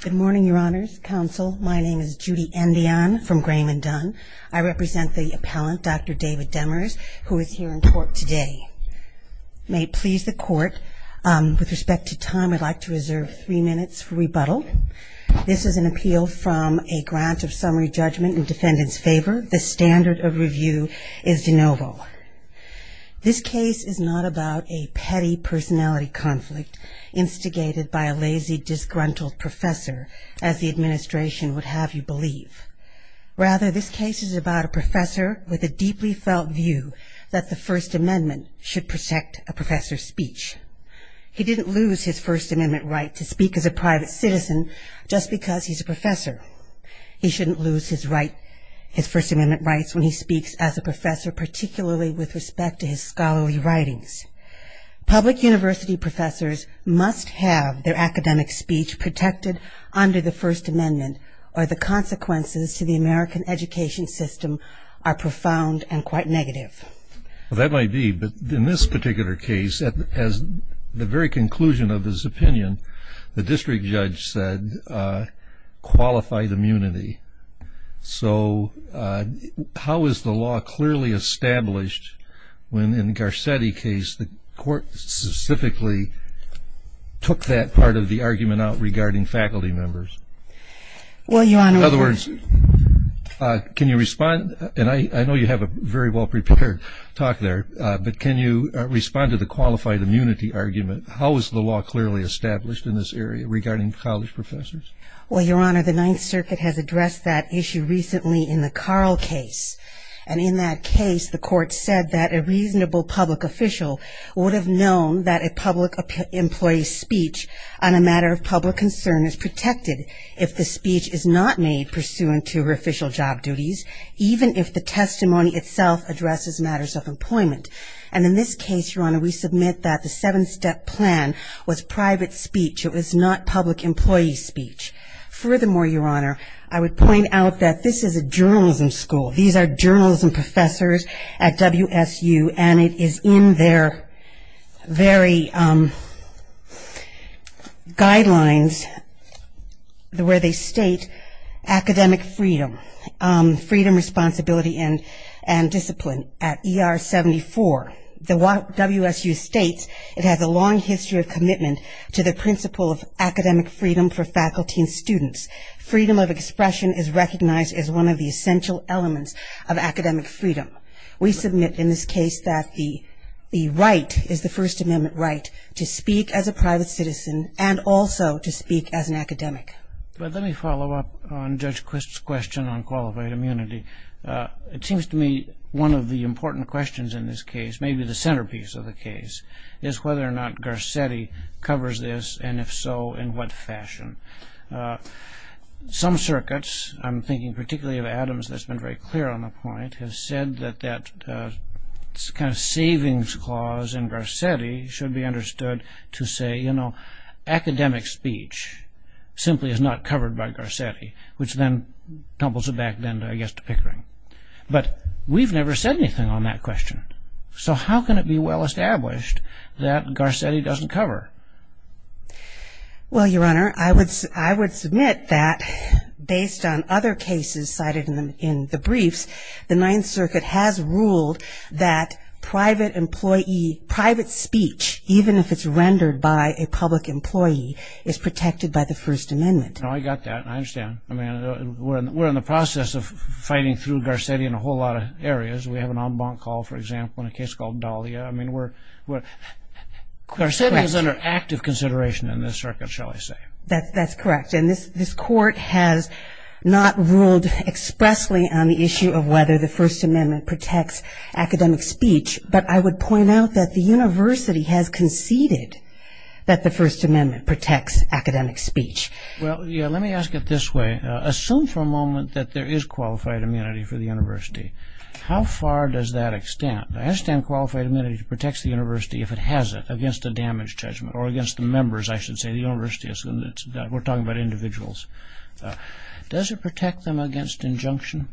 Good morning, Your Honors, Counsel. My name is Judy Endian from Graham and Dunn. I represent the appellant, Dr. David Demers, who is here in court today. May it please the Court, with respect to time, I'd like to reserve three minutes for rebuttal. This is an appeal from a grant of summary judgment in defendant's favor. The standard of review is de novo. This case is not about a petty personality conflict instigated by a lazy, disgruntled professor, as the administration would have you believe. Rather, this case is about a professor with a deeply felt view that the First Amendment should protect a professor's speech. He didn't lose his First Amendment right to speak as a private citizen just because he's a professor. He shouldn't lose his First Amendment rights when he speaks as a professor, particularly with respect to his scholarly writings. Public university professors must have their academic speech protected under the First Amendment, or the consequences to the American education system are profound and quite negative. Well, that might be, but in this particular case, at the very conclusion of his opinion, the district judge said qualified immunity. So how is the law clearly established when, in Garcetti's case, the court specifically took that part of the argument out regarding faculty members? In other words, can you respond? And I know you have a very well prepared talk there, but can you respond to the qualified immunity argument? How is the law clearly established in this area regarding college professors? Well, Your Honor, the Ninth Circuit has addressed that issue recently in the Carl case. And in that case, the court said that a reasonable public official would have known that a public employee's speech on a matter of public concern is protected if the speech is not made pursuant to her official job duties, even if the testimony itself addresses matters of employment. And in this case, Your Honor, we submit that the seven-step plan was private speech. It was not public employee speech. Furthermore, Your Honor, I would point out that this is a journalism school. These are journalism professors at WSU, and it is in their very guidelines where they state academic freedom, freedom, responsibility, and discipline at ER 74. WSU states it has a long history of commitment to the principle of academic freedom for faculty and students. Freedom of expression is recognized as one of the essential elements of academic freedom. We submit in this case that the right is the First Amendment right to speak as a private citizen and also to speak as an academic. Let me follow up on Judge Quisp's question on qualified immunity. It seems to me one of the important questions in this case, maybe the centerpiece of the case, is whether or not Garcetti covers this, and if so, in what fashion. Some circuits, I'm thinking particularly of Adams, that's been very clear on the point, have said that that kind of savings clause in Garcetti should be understood to say, you know, academic speech simply is not covered by Garcetti, which then tumbles it back then, I guess, to Pickering. But we've never said anything on that question. So how can it be well established that Garcetti doesn't cover? Well, Your Honor, I would submit that based on other cases cited in the briefs, the Ninth Circuit has ruled that private employee, private speech, even if it's rendered by a public employee, is protected by the First Amendment. I got that. I understand. I mean, we're in the process of fighting through Garcetti in a whole lot of areas. We have an en banc call, for example, in a case called Dahlia. I mean, Garcetti is under active consideration in this circuit, shall I say. That's correct. And this court has not ruled expressly on the issue of whether the First Amendment protects academic speech, but I would point out that the university has conceded that the First Amendment protects academic speech. Well, let me ask it this way. Assume for a moment that there is qualified immunity for the university. How far does that extend? I understand qualified immunity protects the university, if it has it, against a damage judgment, or against the members, I should say, the university. We're talking about individuals. Does it protect them against injunction?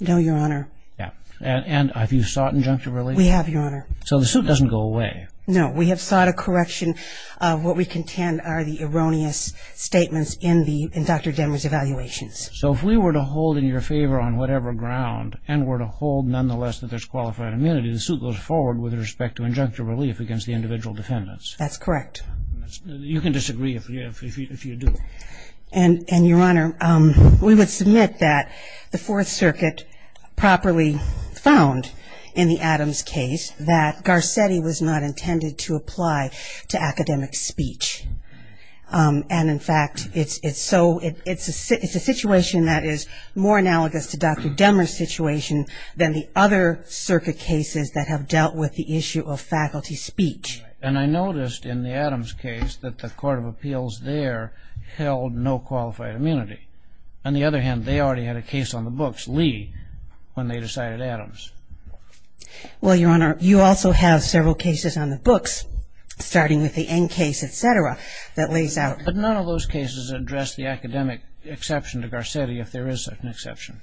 No, Your Honor. And have you sought injunctive relief? We have, Your Honor. So the suit doesn't go away. No, we have sought a correction. What we contend are the erroneous statements in Dr. Demers' evaluations. So if we were to hold in your favor on whatever ground, and were to hold, nonetheless, that there's qualified immunity, the suit goes forward with respect to injunctive relief against the individual defendants. That's correct. You can disagree if you do. And, Your Honor, we would submit that the Fourth Circuit properly found in the Adams case that Garcetti was not intended to apply to academic speech. And, in fact, it's a situation that is more analogous to Dr. Demers' situation than the other circuit cases that have dealt with the issue of faculty speech. And I noticed in the Adams case that the Court of Appeals there held no qualified immunity. On the other hand, they already had a case on the books, Lee, when they decided Adams. Well, Your Honor, you also have several cases on the books, starting with the N case, et cetera, that lays out. But none of those cases address the academic exception to Garcetti if there is an exception.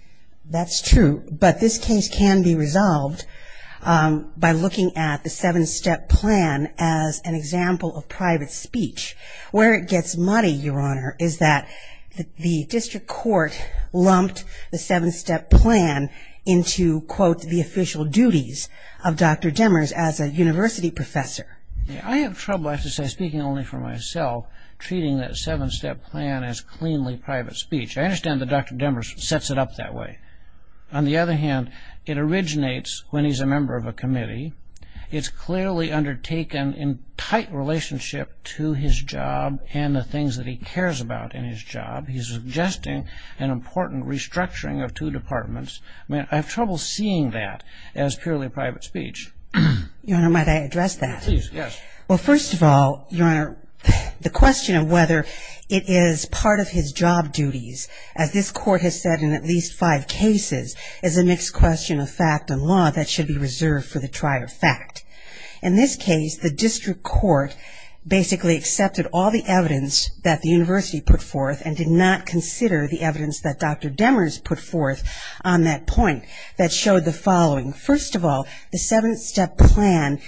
That's true. But this case can be resolved by looking at the seven-step plan as an example of private speech. Where it gets muddy, Your Honor, is that the district court lumped the seven-step plan into, quote, the official duties of Dr. Demers as a university professor. I have trouble, I have to say, speaking only for myself, treating that seven-step plan as cleanly private speech. I understand that Dr. Demers sets it up that way. On the other hand, it originates when he's a member of a committee. It's clearly undertaken in tight relationship to his job and the things that he cares about in his job. He's suggesting an important restructuring of two departments. I mean, I have trouble seeing that as purely private speech. Your Honor, might I address that? Please, yes. Well, first of all, Your Honor, the question of whether it is part of his job duties, as this court has said in at least five cases, is a mixed question of fact and law that should be reserved for the trier fact. In this case, the district court basically accepted all the evidence that the university put forth and did not consider the evidence that Dr. Demers put forth on that point that showed the following. First of all, the seven-step plan,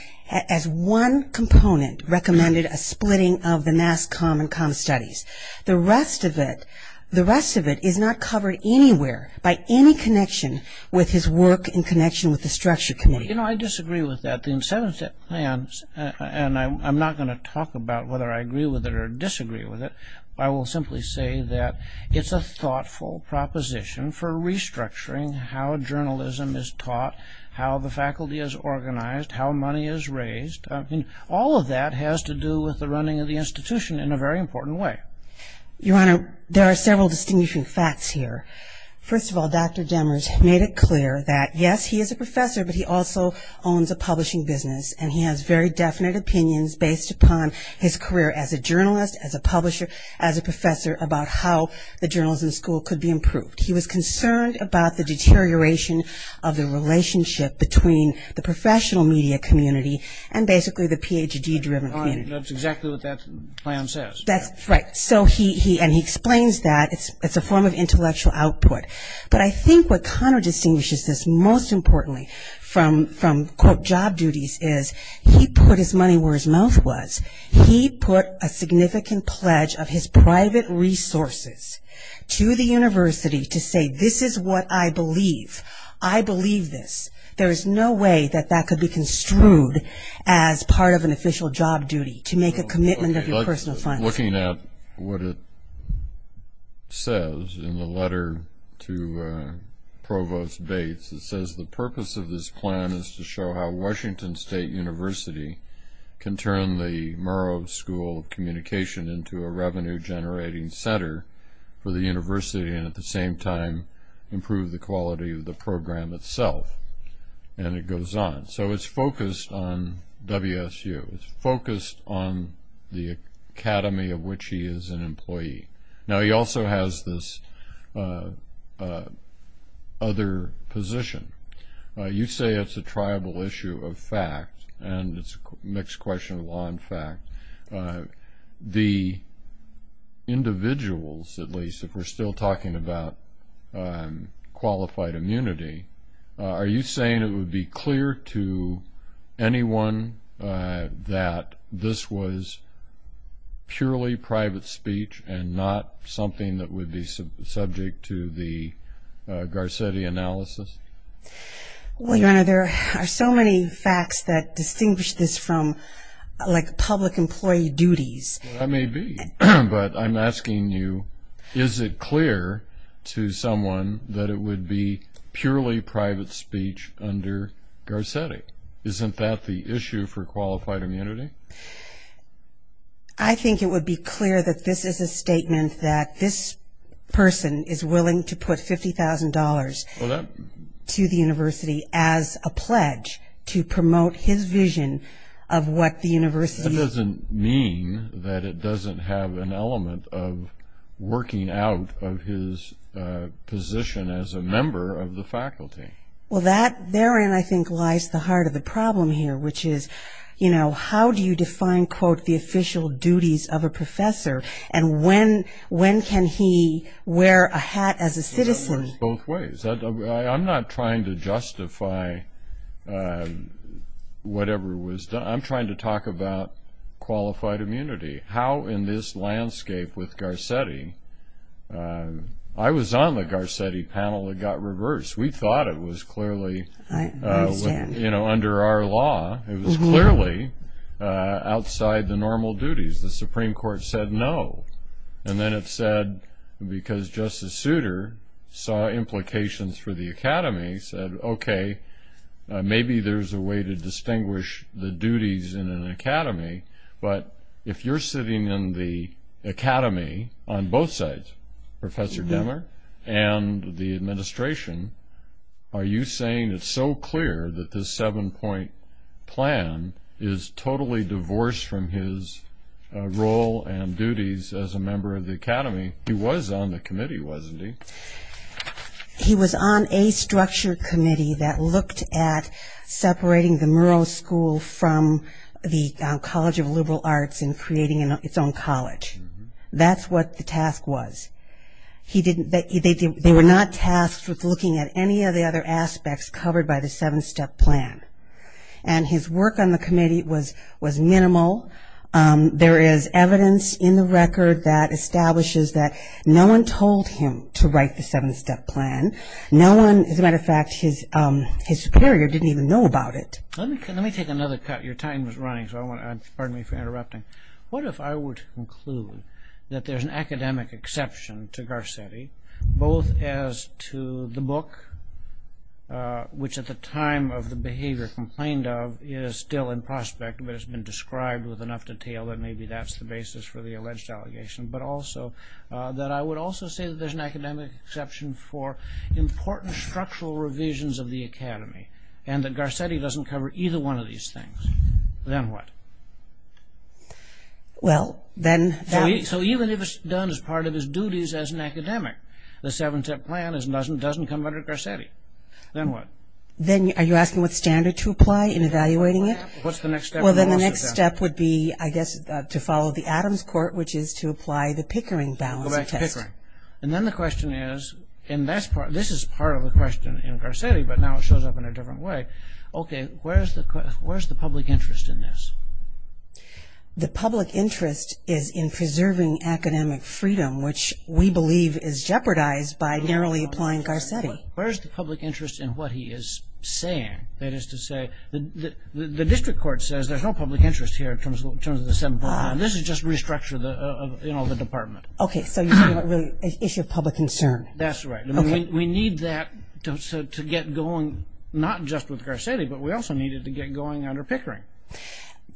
as one component, recommended a splitting of the Mass Comm and Comm Studies. The rest of it, the rest of it is not covered anywhere by any connection with his work in connection with the structure committee. You know, I disagree with that. The seven-step plan, and I'm not going to talk about whether I agree with it or disagree with it, I will simply say that it's a thoughtful proposition for restructuring how journalism is taught, how the faculty is organized, how money is raised. I mean, all of that has to do with the running of the institution in a very important way. Your Honor, there are several distinguishing facts here. First of all, Dr. Demers made it clear that, yes, he is a professor, but he also owns a publishing business, and he has very definite opinions based upon his career as a journalist, as a publisher, as a professor about how the journalism school could be improved. He was concerned about the deterioration of the relationship between the professional media community and basically the Ph.D.-driven community. That's exactly what that plan says. And he explains that. It's a form of intellectual output. But I think what counter-distinguishes this most importantly from, quote, job duties, is he put his money where his mouth was. He put a significant pledge of his private resources to the university to say, this is what I believe. I believe this. There is no way that that could be construed as part of an official job duty, to make a commitment of your personal finance. Looking at what it says in the letter to Provost Bates, it says the purpose of this plan is to show how Washington State University can turn the Murrow School of Communication into a revenue-generating center for the university and at the same time improve the quality of the program itself. And it goes on. So it's focused on WSU. It's focused on the academy of which he is an employee. Now, he also has this other position. You say it's a tribal issue of fact, and it's a mixed question of law and fact. The individuals, at least, if we're still talking about qualified immunity, are you saying it would be clear to anyone that this was purely private speech and not something that would be subject to the Garcetti analysis? Well, Your Honor, there are so many facts that distinguish this from, like, public employee duties. Well, that may be, but I'm asking you, is it clear to someone that it would be purely private speech under Garcetti? Isn't that the issue for qualified immunity? I think it would be clear that this is a statement that this person is willing to put $50,000 to the university as a pledge to promote his vision of what the university. That doesn't mean that it doesn't have an element of working out of his position as a member of the faculty. Well, that therein, I think, lies the heart of the problem here, which is, you know, how do you define, quote, the official duties of a professor, and when can he wear a hat as a citizen? Well, it works both ways. I'm not trying to justify whatever was done. I'm trying to talk about qualified immunity, how in this landscape with Garcetti. I was on the Garcetti panel. It got reversed. We thought it was clearly, you know, under our law. It was clearly outside the normal duties. The Supreme Court said no. And then it said, because Justice Souter saw implications for the academy, said, okay, maybe there's a way to distinguish the duties in an academy. But if you're sitting in the academy on both sides, Professor Demmer and the administration, are you saying it's so clear that this seven-point plan is totally divorced from his role and duties as a member of the academy? He was on the committee, wasn't he? He was on a structured committee that looked at separating the Murrow School from the College of Liberal Arts and creating its own college. That's what the task was. They were not tasked with looking at any of the other aspects covered by the seven-step plan. And his work on the committee was minimal. There is evidence in the record that establishes that no one told him to write the seven-step plan. As a matter of fact, his superior didn't even know about it. Let me take another cut. Your time is running, so pardon me for interrupting. What if I were to conclude that there's an academic exception to Garcetti, both as to the book, which at the time of the behavior complained of, is still in prospect but has been described with enough detail that maybe that's the basis for the alleged allegation, but also that I would also say that there's an academic exception for important structural revisions of the academy and that Garcetti doesn't cover either one of these things. Then what? So even if it's done as part of his duties as an academic, the seven-step plan doesn't come under Garcetti. Then what? Are you asking what standard to apply in evaluating it? What's the next step? Well, then the next step would be, I guess, to follow the Adams court, which is to apply the Pickering balance test. And then the question is, and this is part of the question in Garcetti, but now it shows up in a different way. Okay, where's the public interest in this? The public interest is in preserving academic freedom, which we believe is jeopardized by narrowly applying Garcetti. Where's the public interest in what he is saying? That is to say, the district court says there's no public interest here in terms of the seven-step plan. This is just restructure of the department. Okay, so you're talking about really an issue of public concern. That's right. We need that to get going not just with Garcetti, but we also need it to get going under Pickering.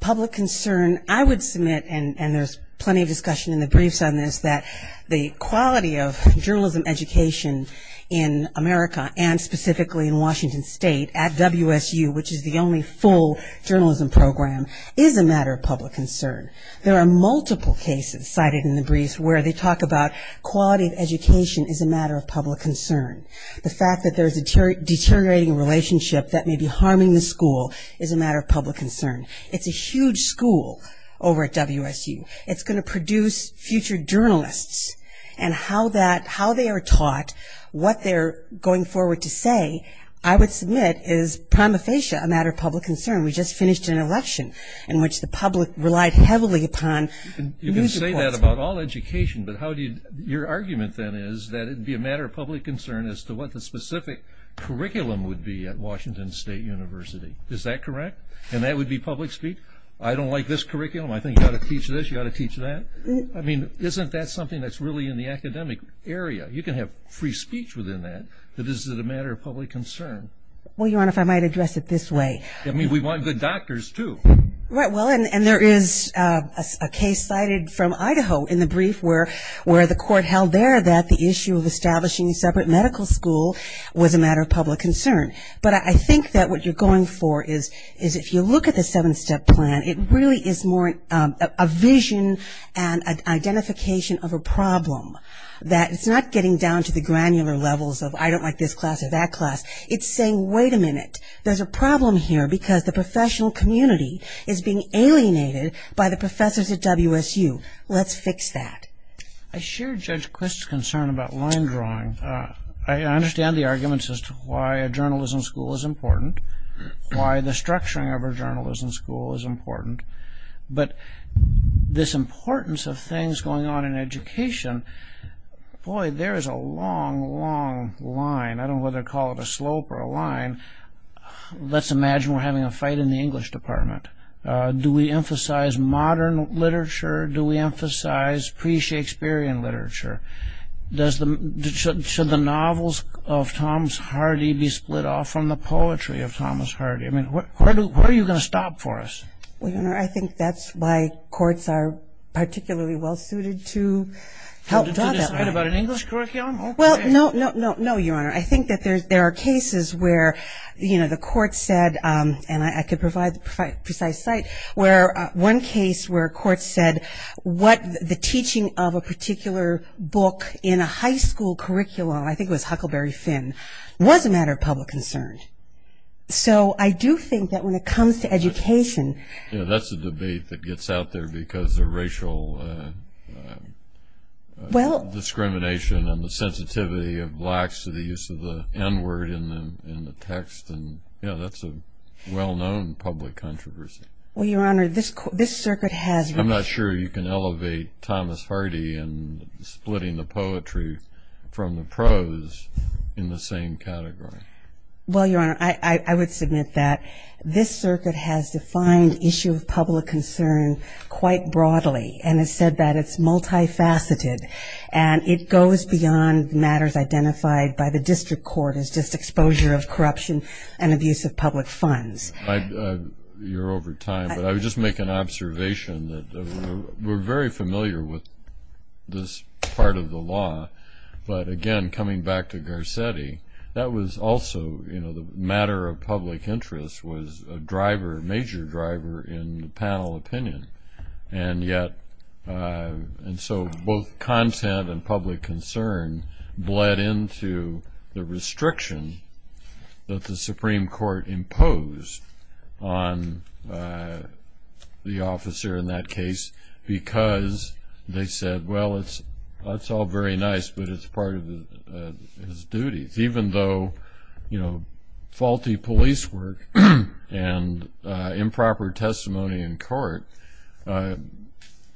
Public concern, I would submit, and there's plenty of discussion in the briefs on this, that the quality of journalism education in America and specifically in Washington State at WSU, which is the only full journalism program, is a matter of public concern. There are multiple cases cited in the briefs where they talk about quality of education is a matter of public concern. The fact that there's a deteriorating relationship that may be harming the school is a matter of public concern. It's a huge school over at WSU. It's going to produce future journalists, and how they are taught, what they're going forward to say, I would submit is prima facie a matter of public concern. We just finished an election in which the public relied heavily upon news reports. You can say that about all education, but your argument then is that it would be a matter of public concern as to what the specific curriculum would be at Washington State University. Is that correct? I don't like this curriculum. I think you ought to teach this, you ought to teach that. I mean, isn't that something that's really in the academic area? You can have free speech within that, but is it a matter of public concern? Well, Your Honor, if I might address it this way. I mean, we want good doctors, too. Right, well, and there is a case cited from Idaho in the brief where the court held there that the issue of establishing a separate medical school was a matter of public concern. But I think that what you're going for is if you look at the seven-step plan, it really is more a vision and identification of a problem. It's not getting down to the granular levels of I don't like this class or that class. It's saying, wait a minute, there's a problem here because the professional community is being alienated by the professors at WSU. Let's fix that. I share Judge Quist's concern about line drawing. I understand the arguments as to why a journalism school is important, why the structuring of a journalism school is important. But this importance of things going on in education, boy, there is a long, long line. I don't know whether to call it a slope or a line. Let's imagine we're having a fight in the English department. Do we emphasize modern literature? Do we emphasize pre-Shakespearean literature? Should the novels of Thomas Hardy be split off from the poetry of Thomas Hardy? I mean, where are you going to stop for us? Well, Your Honor, I think that's why courts are particularly well-suited to help draw that line. To decide about an English curriculum? Well, no, Your Honor. I think that there are cases where, you know, the court said, and I could provide the precise site, where one case where a court said what the teaching of a particular book in a high school curriculum, I think it was Huckleberry Finn, was a matter of public concern. So I do think that when it comes to education. Yeah, that's a debate that gets out there because of racial discrimination and the sensitivity of blacks to the use of the N-word in the text. And, you know, that's a well-known public controversy. Well, Your Honor, this circuit has. I'm not sure you can elevate Thomas Hardy and splitting the poetry from the prose in the same category. Well, Your Honor, I would submit that this circuit has defined issue of public concern quite broadly and has said that it's multifaceted. And it goes beyond matters identified by the district court as just exposure of corruption and abuse of public funds. You're over time. But I would just make an observation that we're very familiar with this part of the law. But, again, coming back to Garcetti, that was also, you know, the matter of public interest was a driver, a major driver in the panel opinion. And so both content and public concern bled into the restriction that the Supreme Court imposed on the officer in that case because they said, well, it's all very nice, but it's part of his duties. Even though, you know, faulty police work and improper testimony in court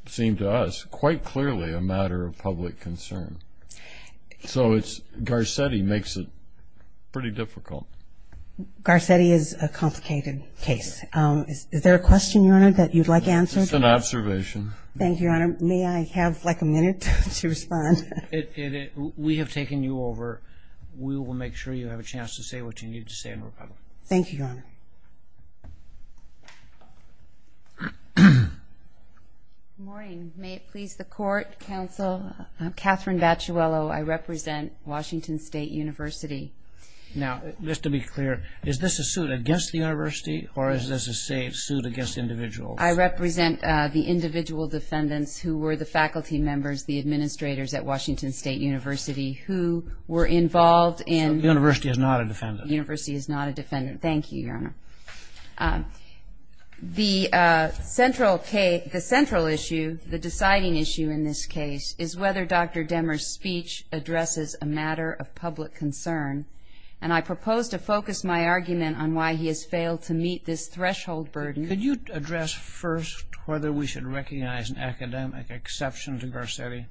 seemed to us quite clearly a matter of public concern. So Garcetti makes it pretty difficult. Garcetti is a complicated case. Is there a question, Your Honor, that you'd like answered? Just an observation. Thank you, Your Honor. May I have like a minute to respond? We have taken you over. We will make sure you have a chance to say what you need to say in rebuttal. Thank you, Your Honor. Good morning. May it please the Court, Counsel, I'm Catherine Baciuello. I represent Washington State University. Now, just to be clear, is this a suit against the university or is this a suit against individuals? I represent the individual defendants who were the faculty members, the administrators at Washington State University who were involved in. So the university is not a defendant. The university is not a defendant. Thank you, Your Honor. The central issue, the deciding issue in this case is whether Dr. Demers' speech addresses a matter of public concern. And I propose to focus my argument on why he has failed to meet this threshold burden. Could you address first whether we should recognize an academic exception to Garcetti?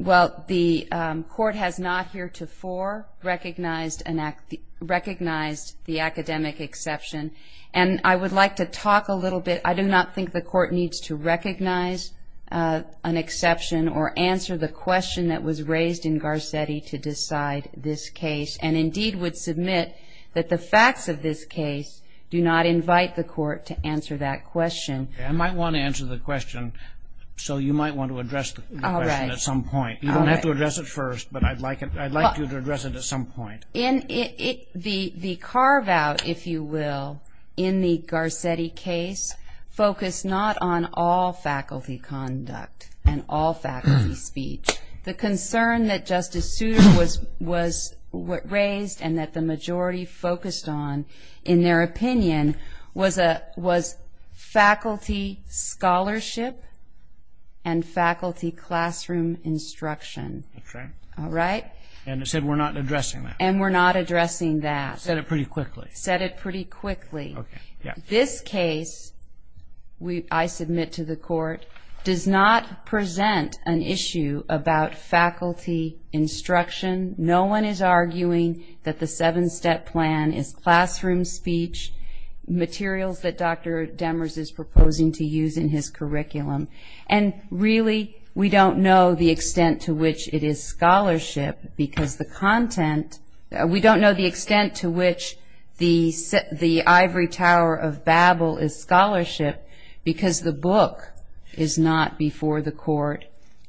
Well, the Court has not heretofore recognized the academic exception. And I would like to talk a little bit. I do not think the Court needs to recognize an exception or answer the question that was raised in Garcetti to decide this case, and indeed would submit that the facts of this case do not invite the Court to answer that question. I might want to answer the question, so you might want to address the question at some point. You don't have to address it first, but I'd like you to address it at some point. The carve-out, if you will, in the Garcetti case focused not on all faculty conduct and all faculty speech. The concern that Justice Souter raised and that the majority focused on, in their opinion, was faculty scholarship and faculty classroom instruction. That's right. All right? And it said we're not addressing that. And we're not addressing that. Said it pretty quickly. Said it pretty quickly. This case, I submit to the Court, does not present an issue about faculty instruction. No one is arguing that the seven-step plan is classroom speech, materials that Dr. Demers is proposing to use in his curriculum. And really, we don't know the extent to which it is scholarship because the content, we don't know the extent to which the ivory tower of Babel is scholarship because the book is not before the Court.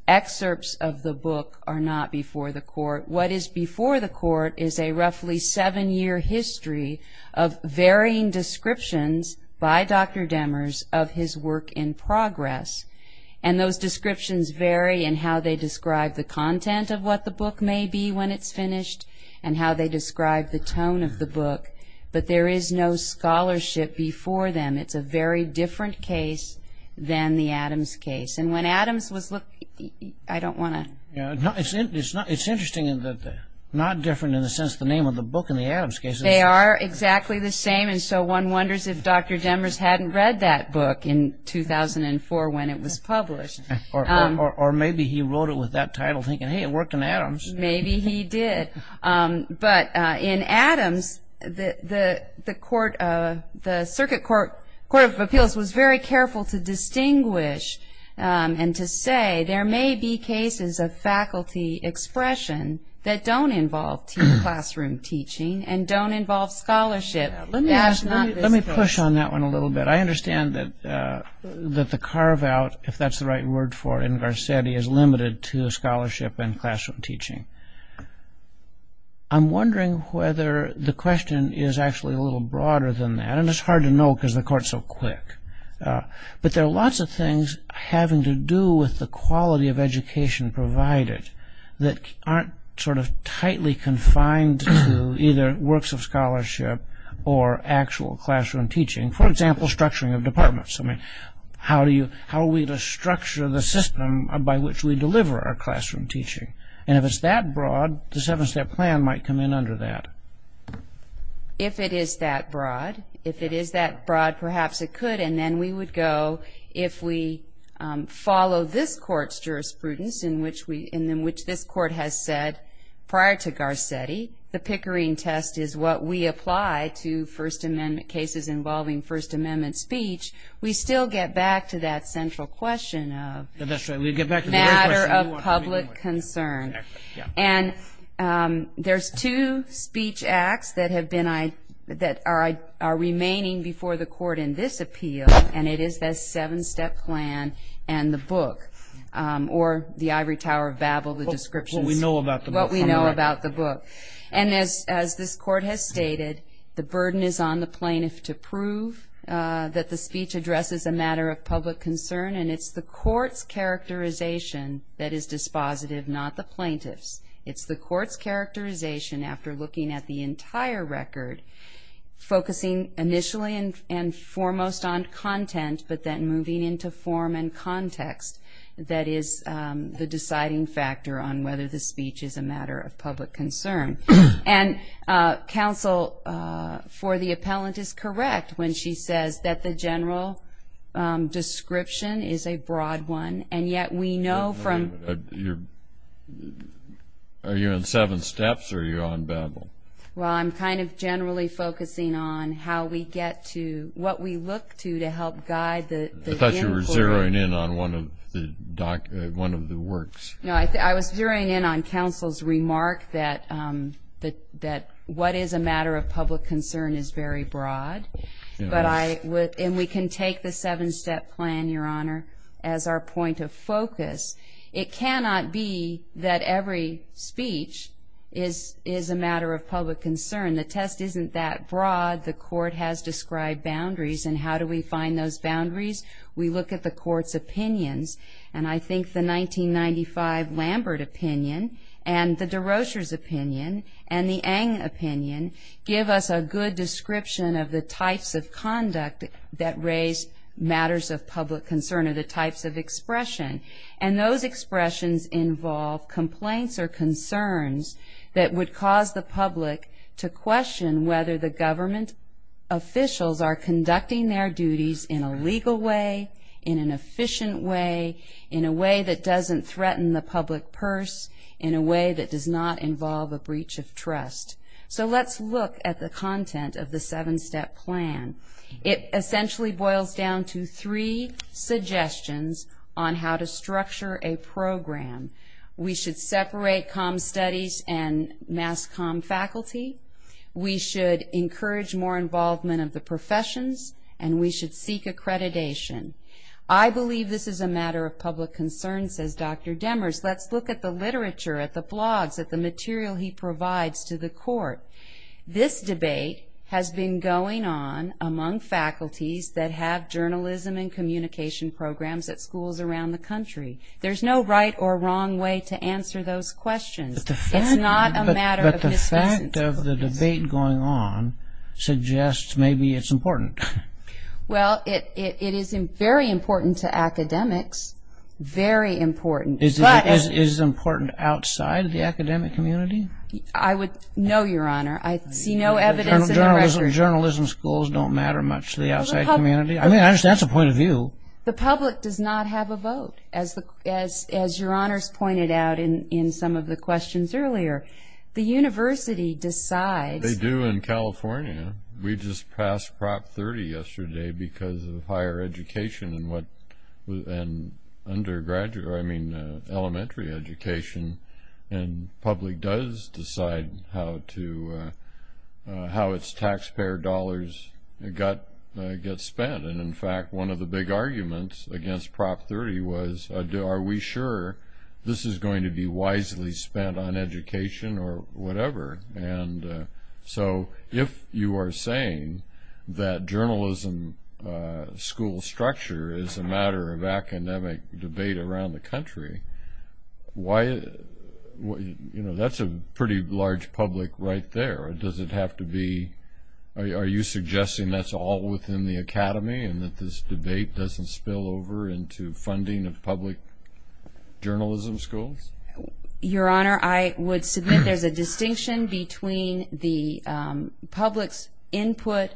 Excerpts of the book are not before the Court. What is before the Court is a roughly seven-year history of varying descriptions by Dr. Demers of his work in progress. And those descriptions vary in how they describe the content of what the book may be when it's finished and how they describe the tone of the book. But there is no scholarship before them. It's a very different case than the Adams case. And when Adams was looked at, I don't want to. It's interesting that they're not different in the sense of the name of the book in the Adams case. They are exactly the same. And so one wonders if Dr. Demers hadn't read that book in 2004 when it was published. Or maybe he wrote it with that title thinking, hey, it worked in Adams. Maybe he did. But in Adams, the Circuit Court of Appeals was very careful to distinguish and to say there may be cases of faculty expression that don't involve classroom teaching and don't involve scholarship. That's not this case. Let me push on that one a little bit. I understand that the carve-out, if that's the right word for it, in Garcetti, is limited to scholarship and classroom teaching. I'm wondering whether the question is actually a little broader than that. And it's hard to know because the Court is so quick. But there are lots of things having to do with the quality of education provided that aren't sort of tightly confined to either works of scholarship or actual classroom teaching. For example, structuring of departments. How are we to structure the system by which we deliver our classroom teaching? And if it's that broad, the seven-step plan might come in under that. If it is that broad. If it is that broad, perhaps it could. And then we would go, if we follow this Court's jurisprudence in which this Court has said prior to Garcetti, the Pickering test is what we apply to First Amendment cases involving First Amendment speech, we still get back to that central question of matter of public concern. And there's two speech acts that are remaining before the Court in this appeal, and it is the seven-step plan and the book. Or the ivory tower of Babel, the descriptions. What we know about the book. What we know about the book. And as this Court has stated, the burden is on the plaintiff to prove that the speech addresses a matter of public concern, and it's the Court's characterization that is dispositive, not the plaintiff's. It's the Court's characterization after looking at the entire record, focusing initially and foremost on content, but then moving into form and context, that is the deciding factor on whether the speech is a matter of public concern. And counsel for the appellant is correct when she says that the general description is a broad one, and yet we know from... Are you on seven steps or are you on Babel? Well, I'm kind of generally focusing on how we get to what we look to to help guide the inquiry. I thought you were zeroing in on one of the works. No, I was zeroing in on counsel's remark that what is a matter of public concern is very broad, and we can take the seven-step plan, Your Honor, as our point of focus. It cannot be that every speech is a matter of public concern. The test isn't that broad. The Court has described boundaries, and how do we find those boundaries? We look at the Court's opinions, and I think the 1995 Lambert opinion and the de Rocher's opinion and the Ng opinion give us a good description of the types of conduct that raise matters of public concern or the types of expression, and those expressions involve complaints or concerns that would cause the public to question whether the government officials are conducting their duties in a legal way, in an efficient way, in a way that doesn't threaten the public purse, in a way that does not involve a breach of trust. So let's look at the content of the seven-step plan. It essentially boils down to three suggestions on how to structure a program. We should separate comm studies and mass comm faculty. We should encourage more involvement of the professions, and we should seek accreditation. I believe this is a matter of public concern, says Dr. Demers. Let's look at the literature, at the blogs, at the material he provides to the Court. This debate has been going on among faculties that have journalism and communication programs at schools around the country. There's no right or wrong way to answer those questions. It's not a matter of discussion. But the fact of the debate going on suggests maybe it's important. Well, it is very important to academics, very important. Is it important outside the academic community? I would know, Your Honor. I see no evidence in the record. Journalism schools don't matter much to the outside community? I mean, that's a point of view. The public does not have a vote, as Your Honors pointed out in some of the questions earlier. The university decides. They do in California. We just passed Prop 30 yesterday because of higher education and elementary education, and public does decide how its taxpayer dollars get spent. And, in fact, one of the big arguments against Prop 30 was, are we sure this is going to be wisely spent on education or whatever? And so if you are saying that journalism school structure is a matter of academic debate around the country, that's a pretty large public right there. Does it have to be ñ are you suggesting that's all within the academy and that this debate doesn't spill over into funding of public journalism schools? Your Honor, I would submit there's a distinction between the public's input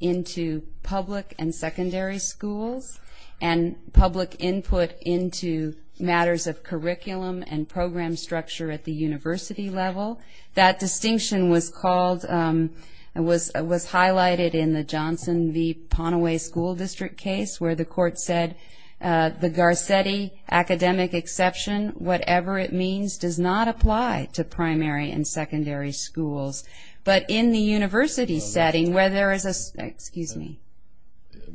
into public and secondary schools and public input into matters of curriculum and program structure at the university level. That distinction was called ñ was highlighted in the Johnson v. Ponaway School District case where the court said the Garcetti academic exception, whatever it means, does not apply to primary and secondary schools. But in the university setting where there is a ñ excuse me.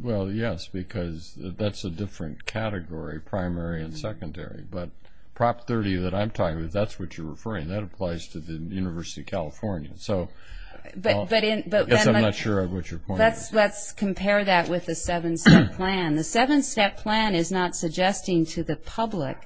Well, yes, because that's a different category, primary and secondary. But Prop 30 that I'm talking about, that's what you're referring. That applies to the University of California. So I guess I'm not sure of what your point is. Let's compare that with the seven-step plan. The seven-step plan is not suggesting to the public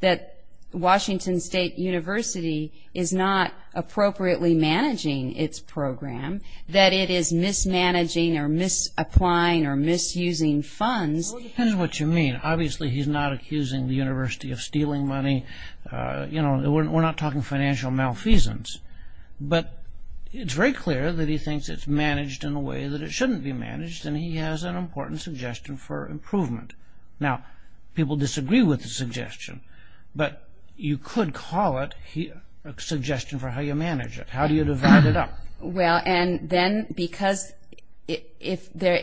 that Washington State University is not appropriately managing its program, that it is mismanaging or misapplying or misusing funds. Well, it depends on what you mean. Obviously he's not accusing the university of stealing money. We're not talking financial malfeasance. But it's very clear that he thinks it's managed in a way that it shouldn't be managed, and he has an important suggestion for improvement. Now, people disagree with the suggestion, but you could call it a suggestion for how you manage it. How do you divide it up? Well, and then because if there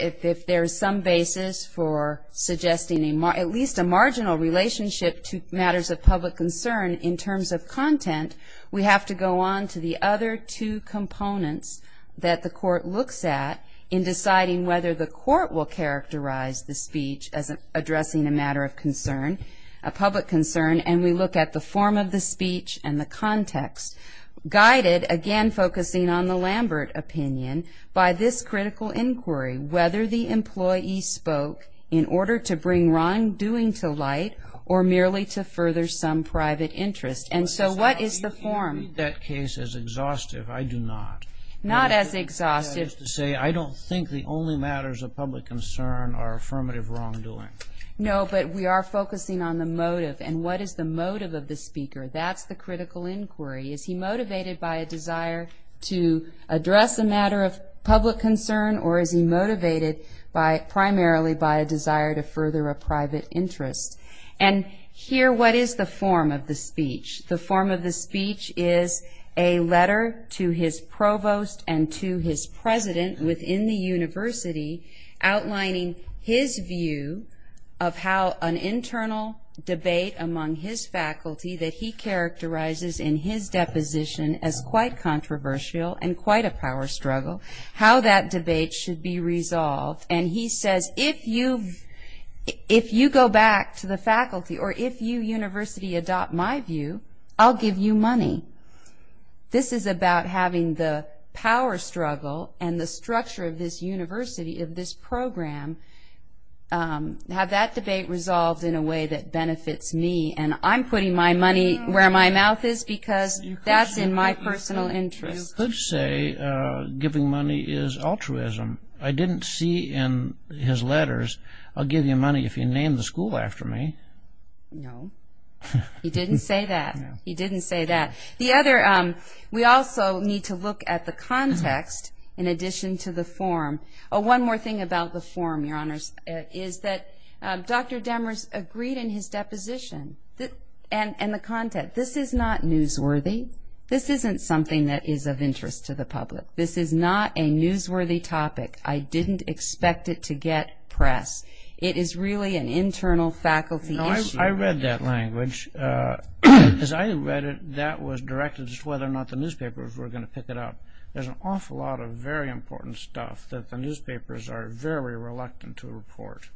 is some basis for suggesting at least a marginal relationship to matters of public concern in terms of content, we have to go on to the other two components that the court looks at in deciding whether the court will characterize the speech as addressing a matter of concern, a public concern, and we look at the form of the speech and the context, guided, again, focusing on the Lambert opinion, by this critical inquiry, whether the employee spoke in order to bring wrongdoing to light or merely to further some private interest. And so what is the form? You can read that case as exhaustive. I do not. Not as exhaustive. That is to say I don't think the only matters of public concern are affirmative wrongdoing. No, but we are focusing on the motive, and what is the motive of the speaker? That's the critical inquiry. Is he motivated by a desire to address a matter of public concern or is he motivated primarily by a desire to further a private interest? And here, what is the form of the speech? The form of the speech is a letter to his provost and to his president within the university outlining his view of how an internal debate among his faculty that he characterizes in his deposition as quite controversial and quite a power struggle, how that debate should be resolved. And he says, if you go back to the faculty or if you, university, adopt my view, I'll give you money. This is about having the power struggle and the structure of this university, of this program, have that debate resolved in a way that benefits me. And I'm putting my money where my mouth is because that's in my personal interest. You could say giving money is altruism. I didn't see in his letters, I'll give you money if you name the school after me. No. He didn't say that. He didn't say that. The other, we also need to look at the context in addition to the form. One more thing about the form, Your Honors, is that Dr. Demers agreed in his deposition and the content. This is not newsworthy. This isn't something that is of interest to the public. This is not a newsworthy topic. I didn't expect it to get press. It is really an internal faculty issue. I read that language. As I read it, that was directed as to whether or not the newspapers were going to pick it up. There's an awful lot of very important stuff that the newspapers are very reluctant to report.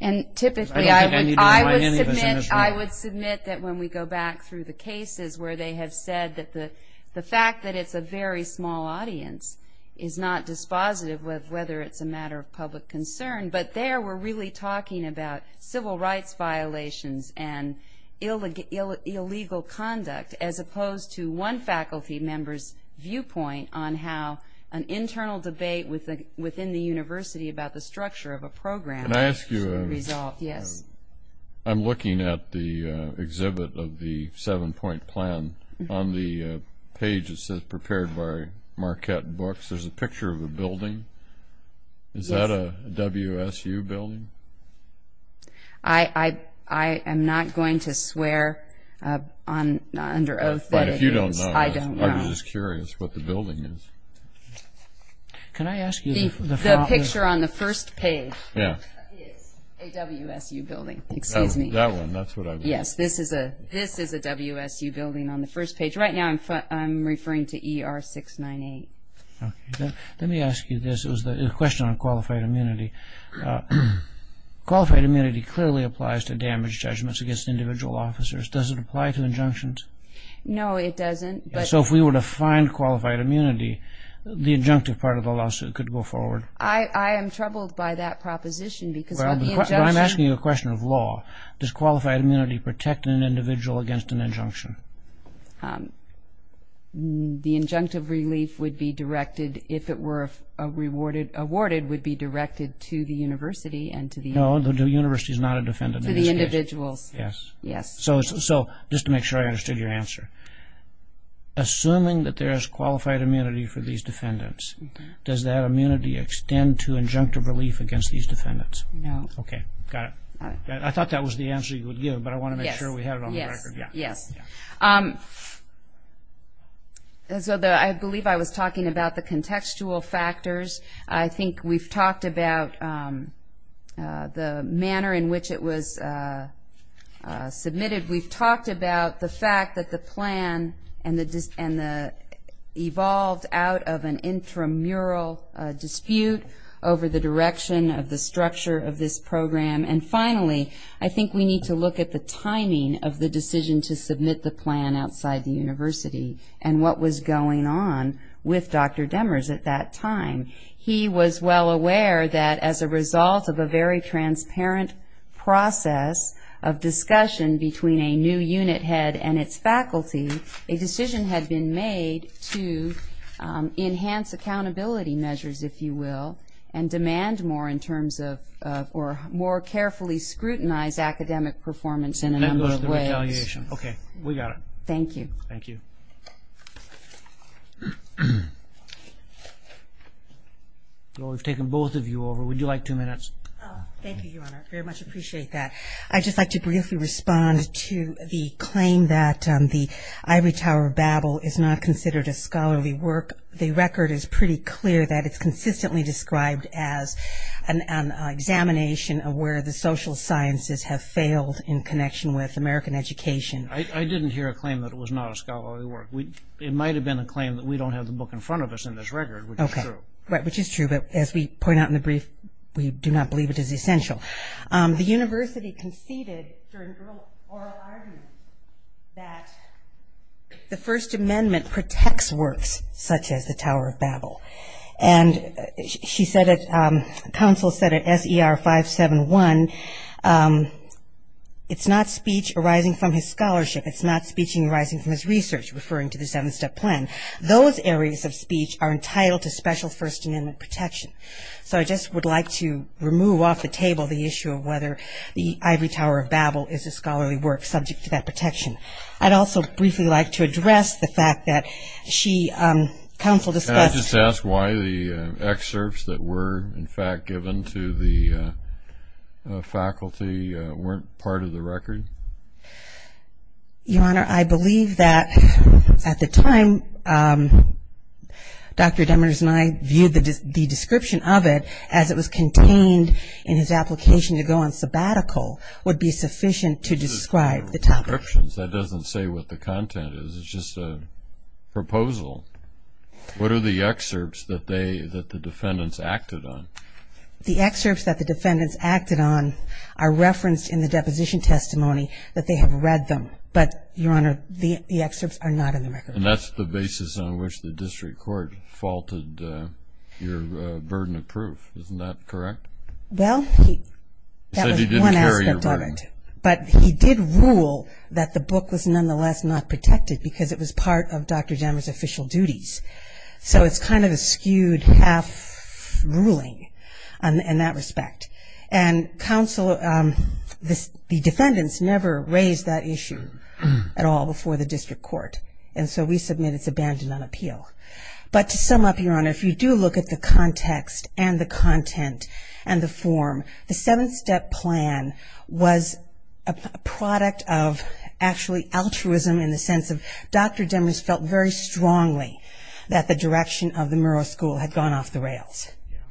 And typically I would submit that when we go back through the cases where they have said that the fact that it's a very small audience is not dispositive of whether it's a matter of public concern. But there we're really talking about civil rights violations and illegal conduct as opposed to one faculty member's viewpoint on how an internal debate within the university about the structure of a program should be resolved. Can I ask you a question? Yes. I'm looking at the exhibit of the seven-point plan on the page that says prepared by Marquette Books. There's a picture of a building. Is that a WSU building? I am not going to swear under oath that it is. But if you don't know, I'm just curious what the building is. Can I ask you the following? The picture on the first page is a WSU building. Excuse me. That one. Yes, this is a WSU building on the first page. Right now I'm referring to ER 698. Let me ask you this. It was a question on qualified immunity. Qualified immunity clearly applies to damage judgments against individual officers. Does it apply to injunctions? No, it doesn't. So if we were to find qualified immunity, the injunctive part of the lawsuit could go forward? I am troubled by that proposition because of the injunction. Well, I'm asking you a question of law. Does qualified immunity protect an individual against an injunction? The injunctive relief would be directed, if it were awarded, would be directed to the university and to the individuals. No, the university is not a defendant in this case. To the individuals. Yes. Yes. So just to make sure I understood your answer, assuming that there is qualified immunity for these defendants, does that immunity extend to injunctive relief against these defendants? No. Okay, got it. I thought that was the answer you would give, but I want to make sure we have it on the record. Yes. So I believe I was talking about the contextual factors. I think we've talked about the manner in which it was submitted. We've talked about the fact that the plan evolved out of an intramural dispute over the direction of the structure of this program. And finally, I think we need to look at the timing of the decision to submit the plan outside the university and what was going on with Dr. Demers at that time. He was well aware that as a result of a very transparent process of discussion between a new unit head and its faculty, a decision had been made to enhance accountability measures, if you will, and demand more in terms of or more carefully scrutinize academic performance in a number of ways. And then go to the retaliation. Okay, we got it. Thank you. Thank you. We've taken both of you over. Would you like two minutes? Thank you, Your Honor. I very much appreciate that. I'd just like to briefly respond to the claim that the ivory tower battle is not considered a scholarly work. The record is pretty clear that it's consistently described as an examination of where the social sciences have failed in connection with American education. I didn't hear a claim that it was not a scholarly work. It might have been a claim that we don't have the book in front of us in this record, which is true. Right, which is true, but as we point out in the brief, we do not believe it is essential. The university conceded during oral arguments that the First Amendment protects works such as the Tower of Babel. And she said it, counsel said it, S.E.R. 571, it's not speech arising from his scholarship. It's not speech arising from his research, referring to the seven-step plan. Those areas of speech are entitled to special First Amendment protection. So I just would like to remove off the table the issue of whether the ivory tower of Babel is a scholarly work subject to that protection. I'd also briefly like to address the fact that she, counsel discussed. Can I just ask why the excerpts that were, in fact, given to the faculty weren't part of the record? Your Honor, I believe that at the time Dr. Demers and I viewed the description of it as it was contained in his application to go on sabbatical would be sufficient to describe the topic. That doesn't say what the content is. It's just a proposal. What are the excerpts that the defendants acted on? The excerpts that the defendants acted on are referenced in the deposition testimony that they have read them. But, Your Honor, the excerpts are not in the record. And that's the basis on which the district court faulted your burden of proof. Isn't that correct? Well, that was one aspect of it. But he did rule that the book was nonetheless not protected because it was part of Dr. Demers' official duties. So it's kind of a skewed half ruling in that respect. And counsel, the defendants never raised that issue at all before the district court. And so we submit it's abandoned on appeal. But to sum up, Your Honor, if you do look at the context and the content and the form, the seven-step plan was a product of actually altruism in the sense of Dr. Demers felt very strongly that the direction of the Murrow School had gone off the rails.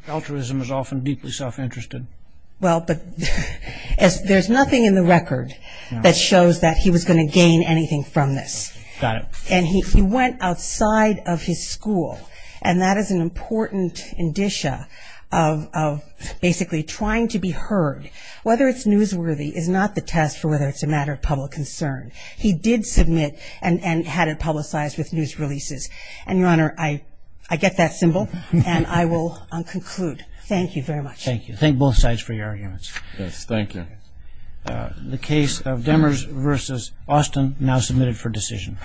Altruism is often deeply self-interested. Well, but there's nothing in the record that shows that he was going to gain anything from this. Got it. And he went outside of his school. And that is an important indicia of basically trying to be heard. Whether it's newsworthy is not the test for whether it's a matter of public concern. He did submit and had it publicized with news releases. And, Your Honor, I get that symbol, and I will conclude. Thank you very much. Thank you. Thank both sides for your arguments. Yes, thank you. The case of Demers v. Austin now submitted for decision.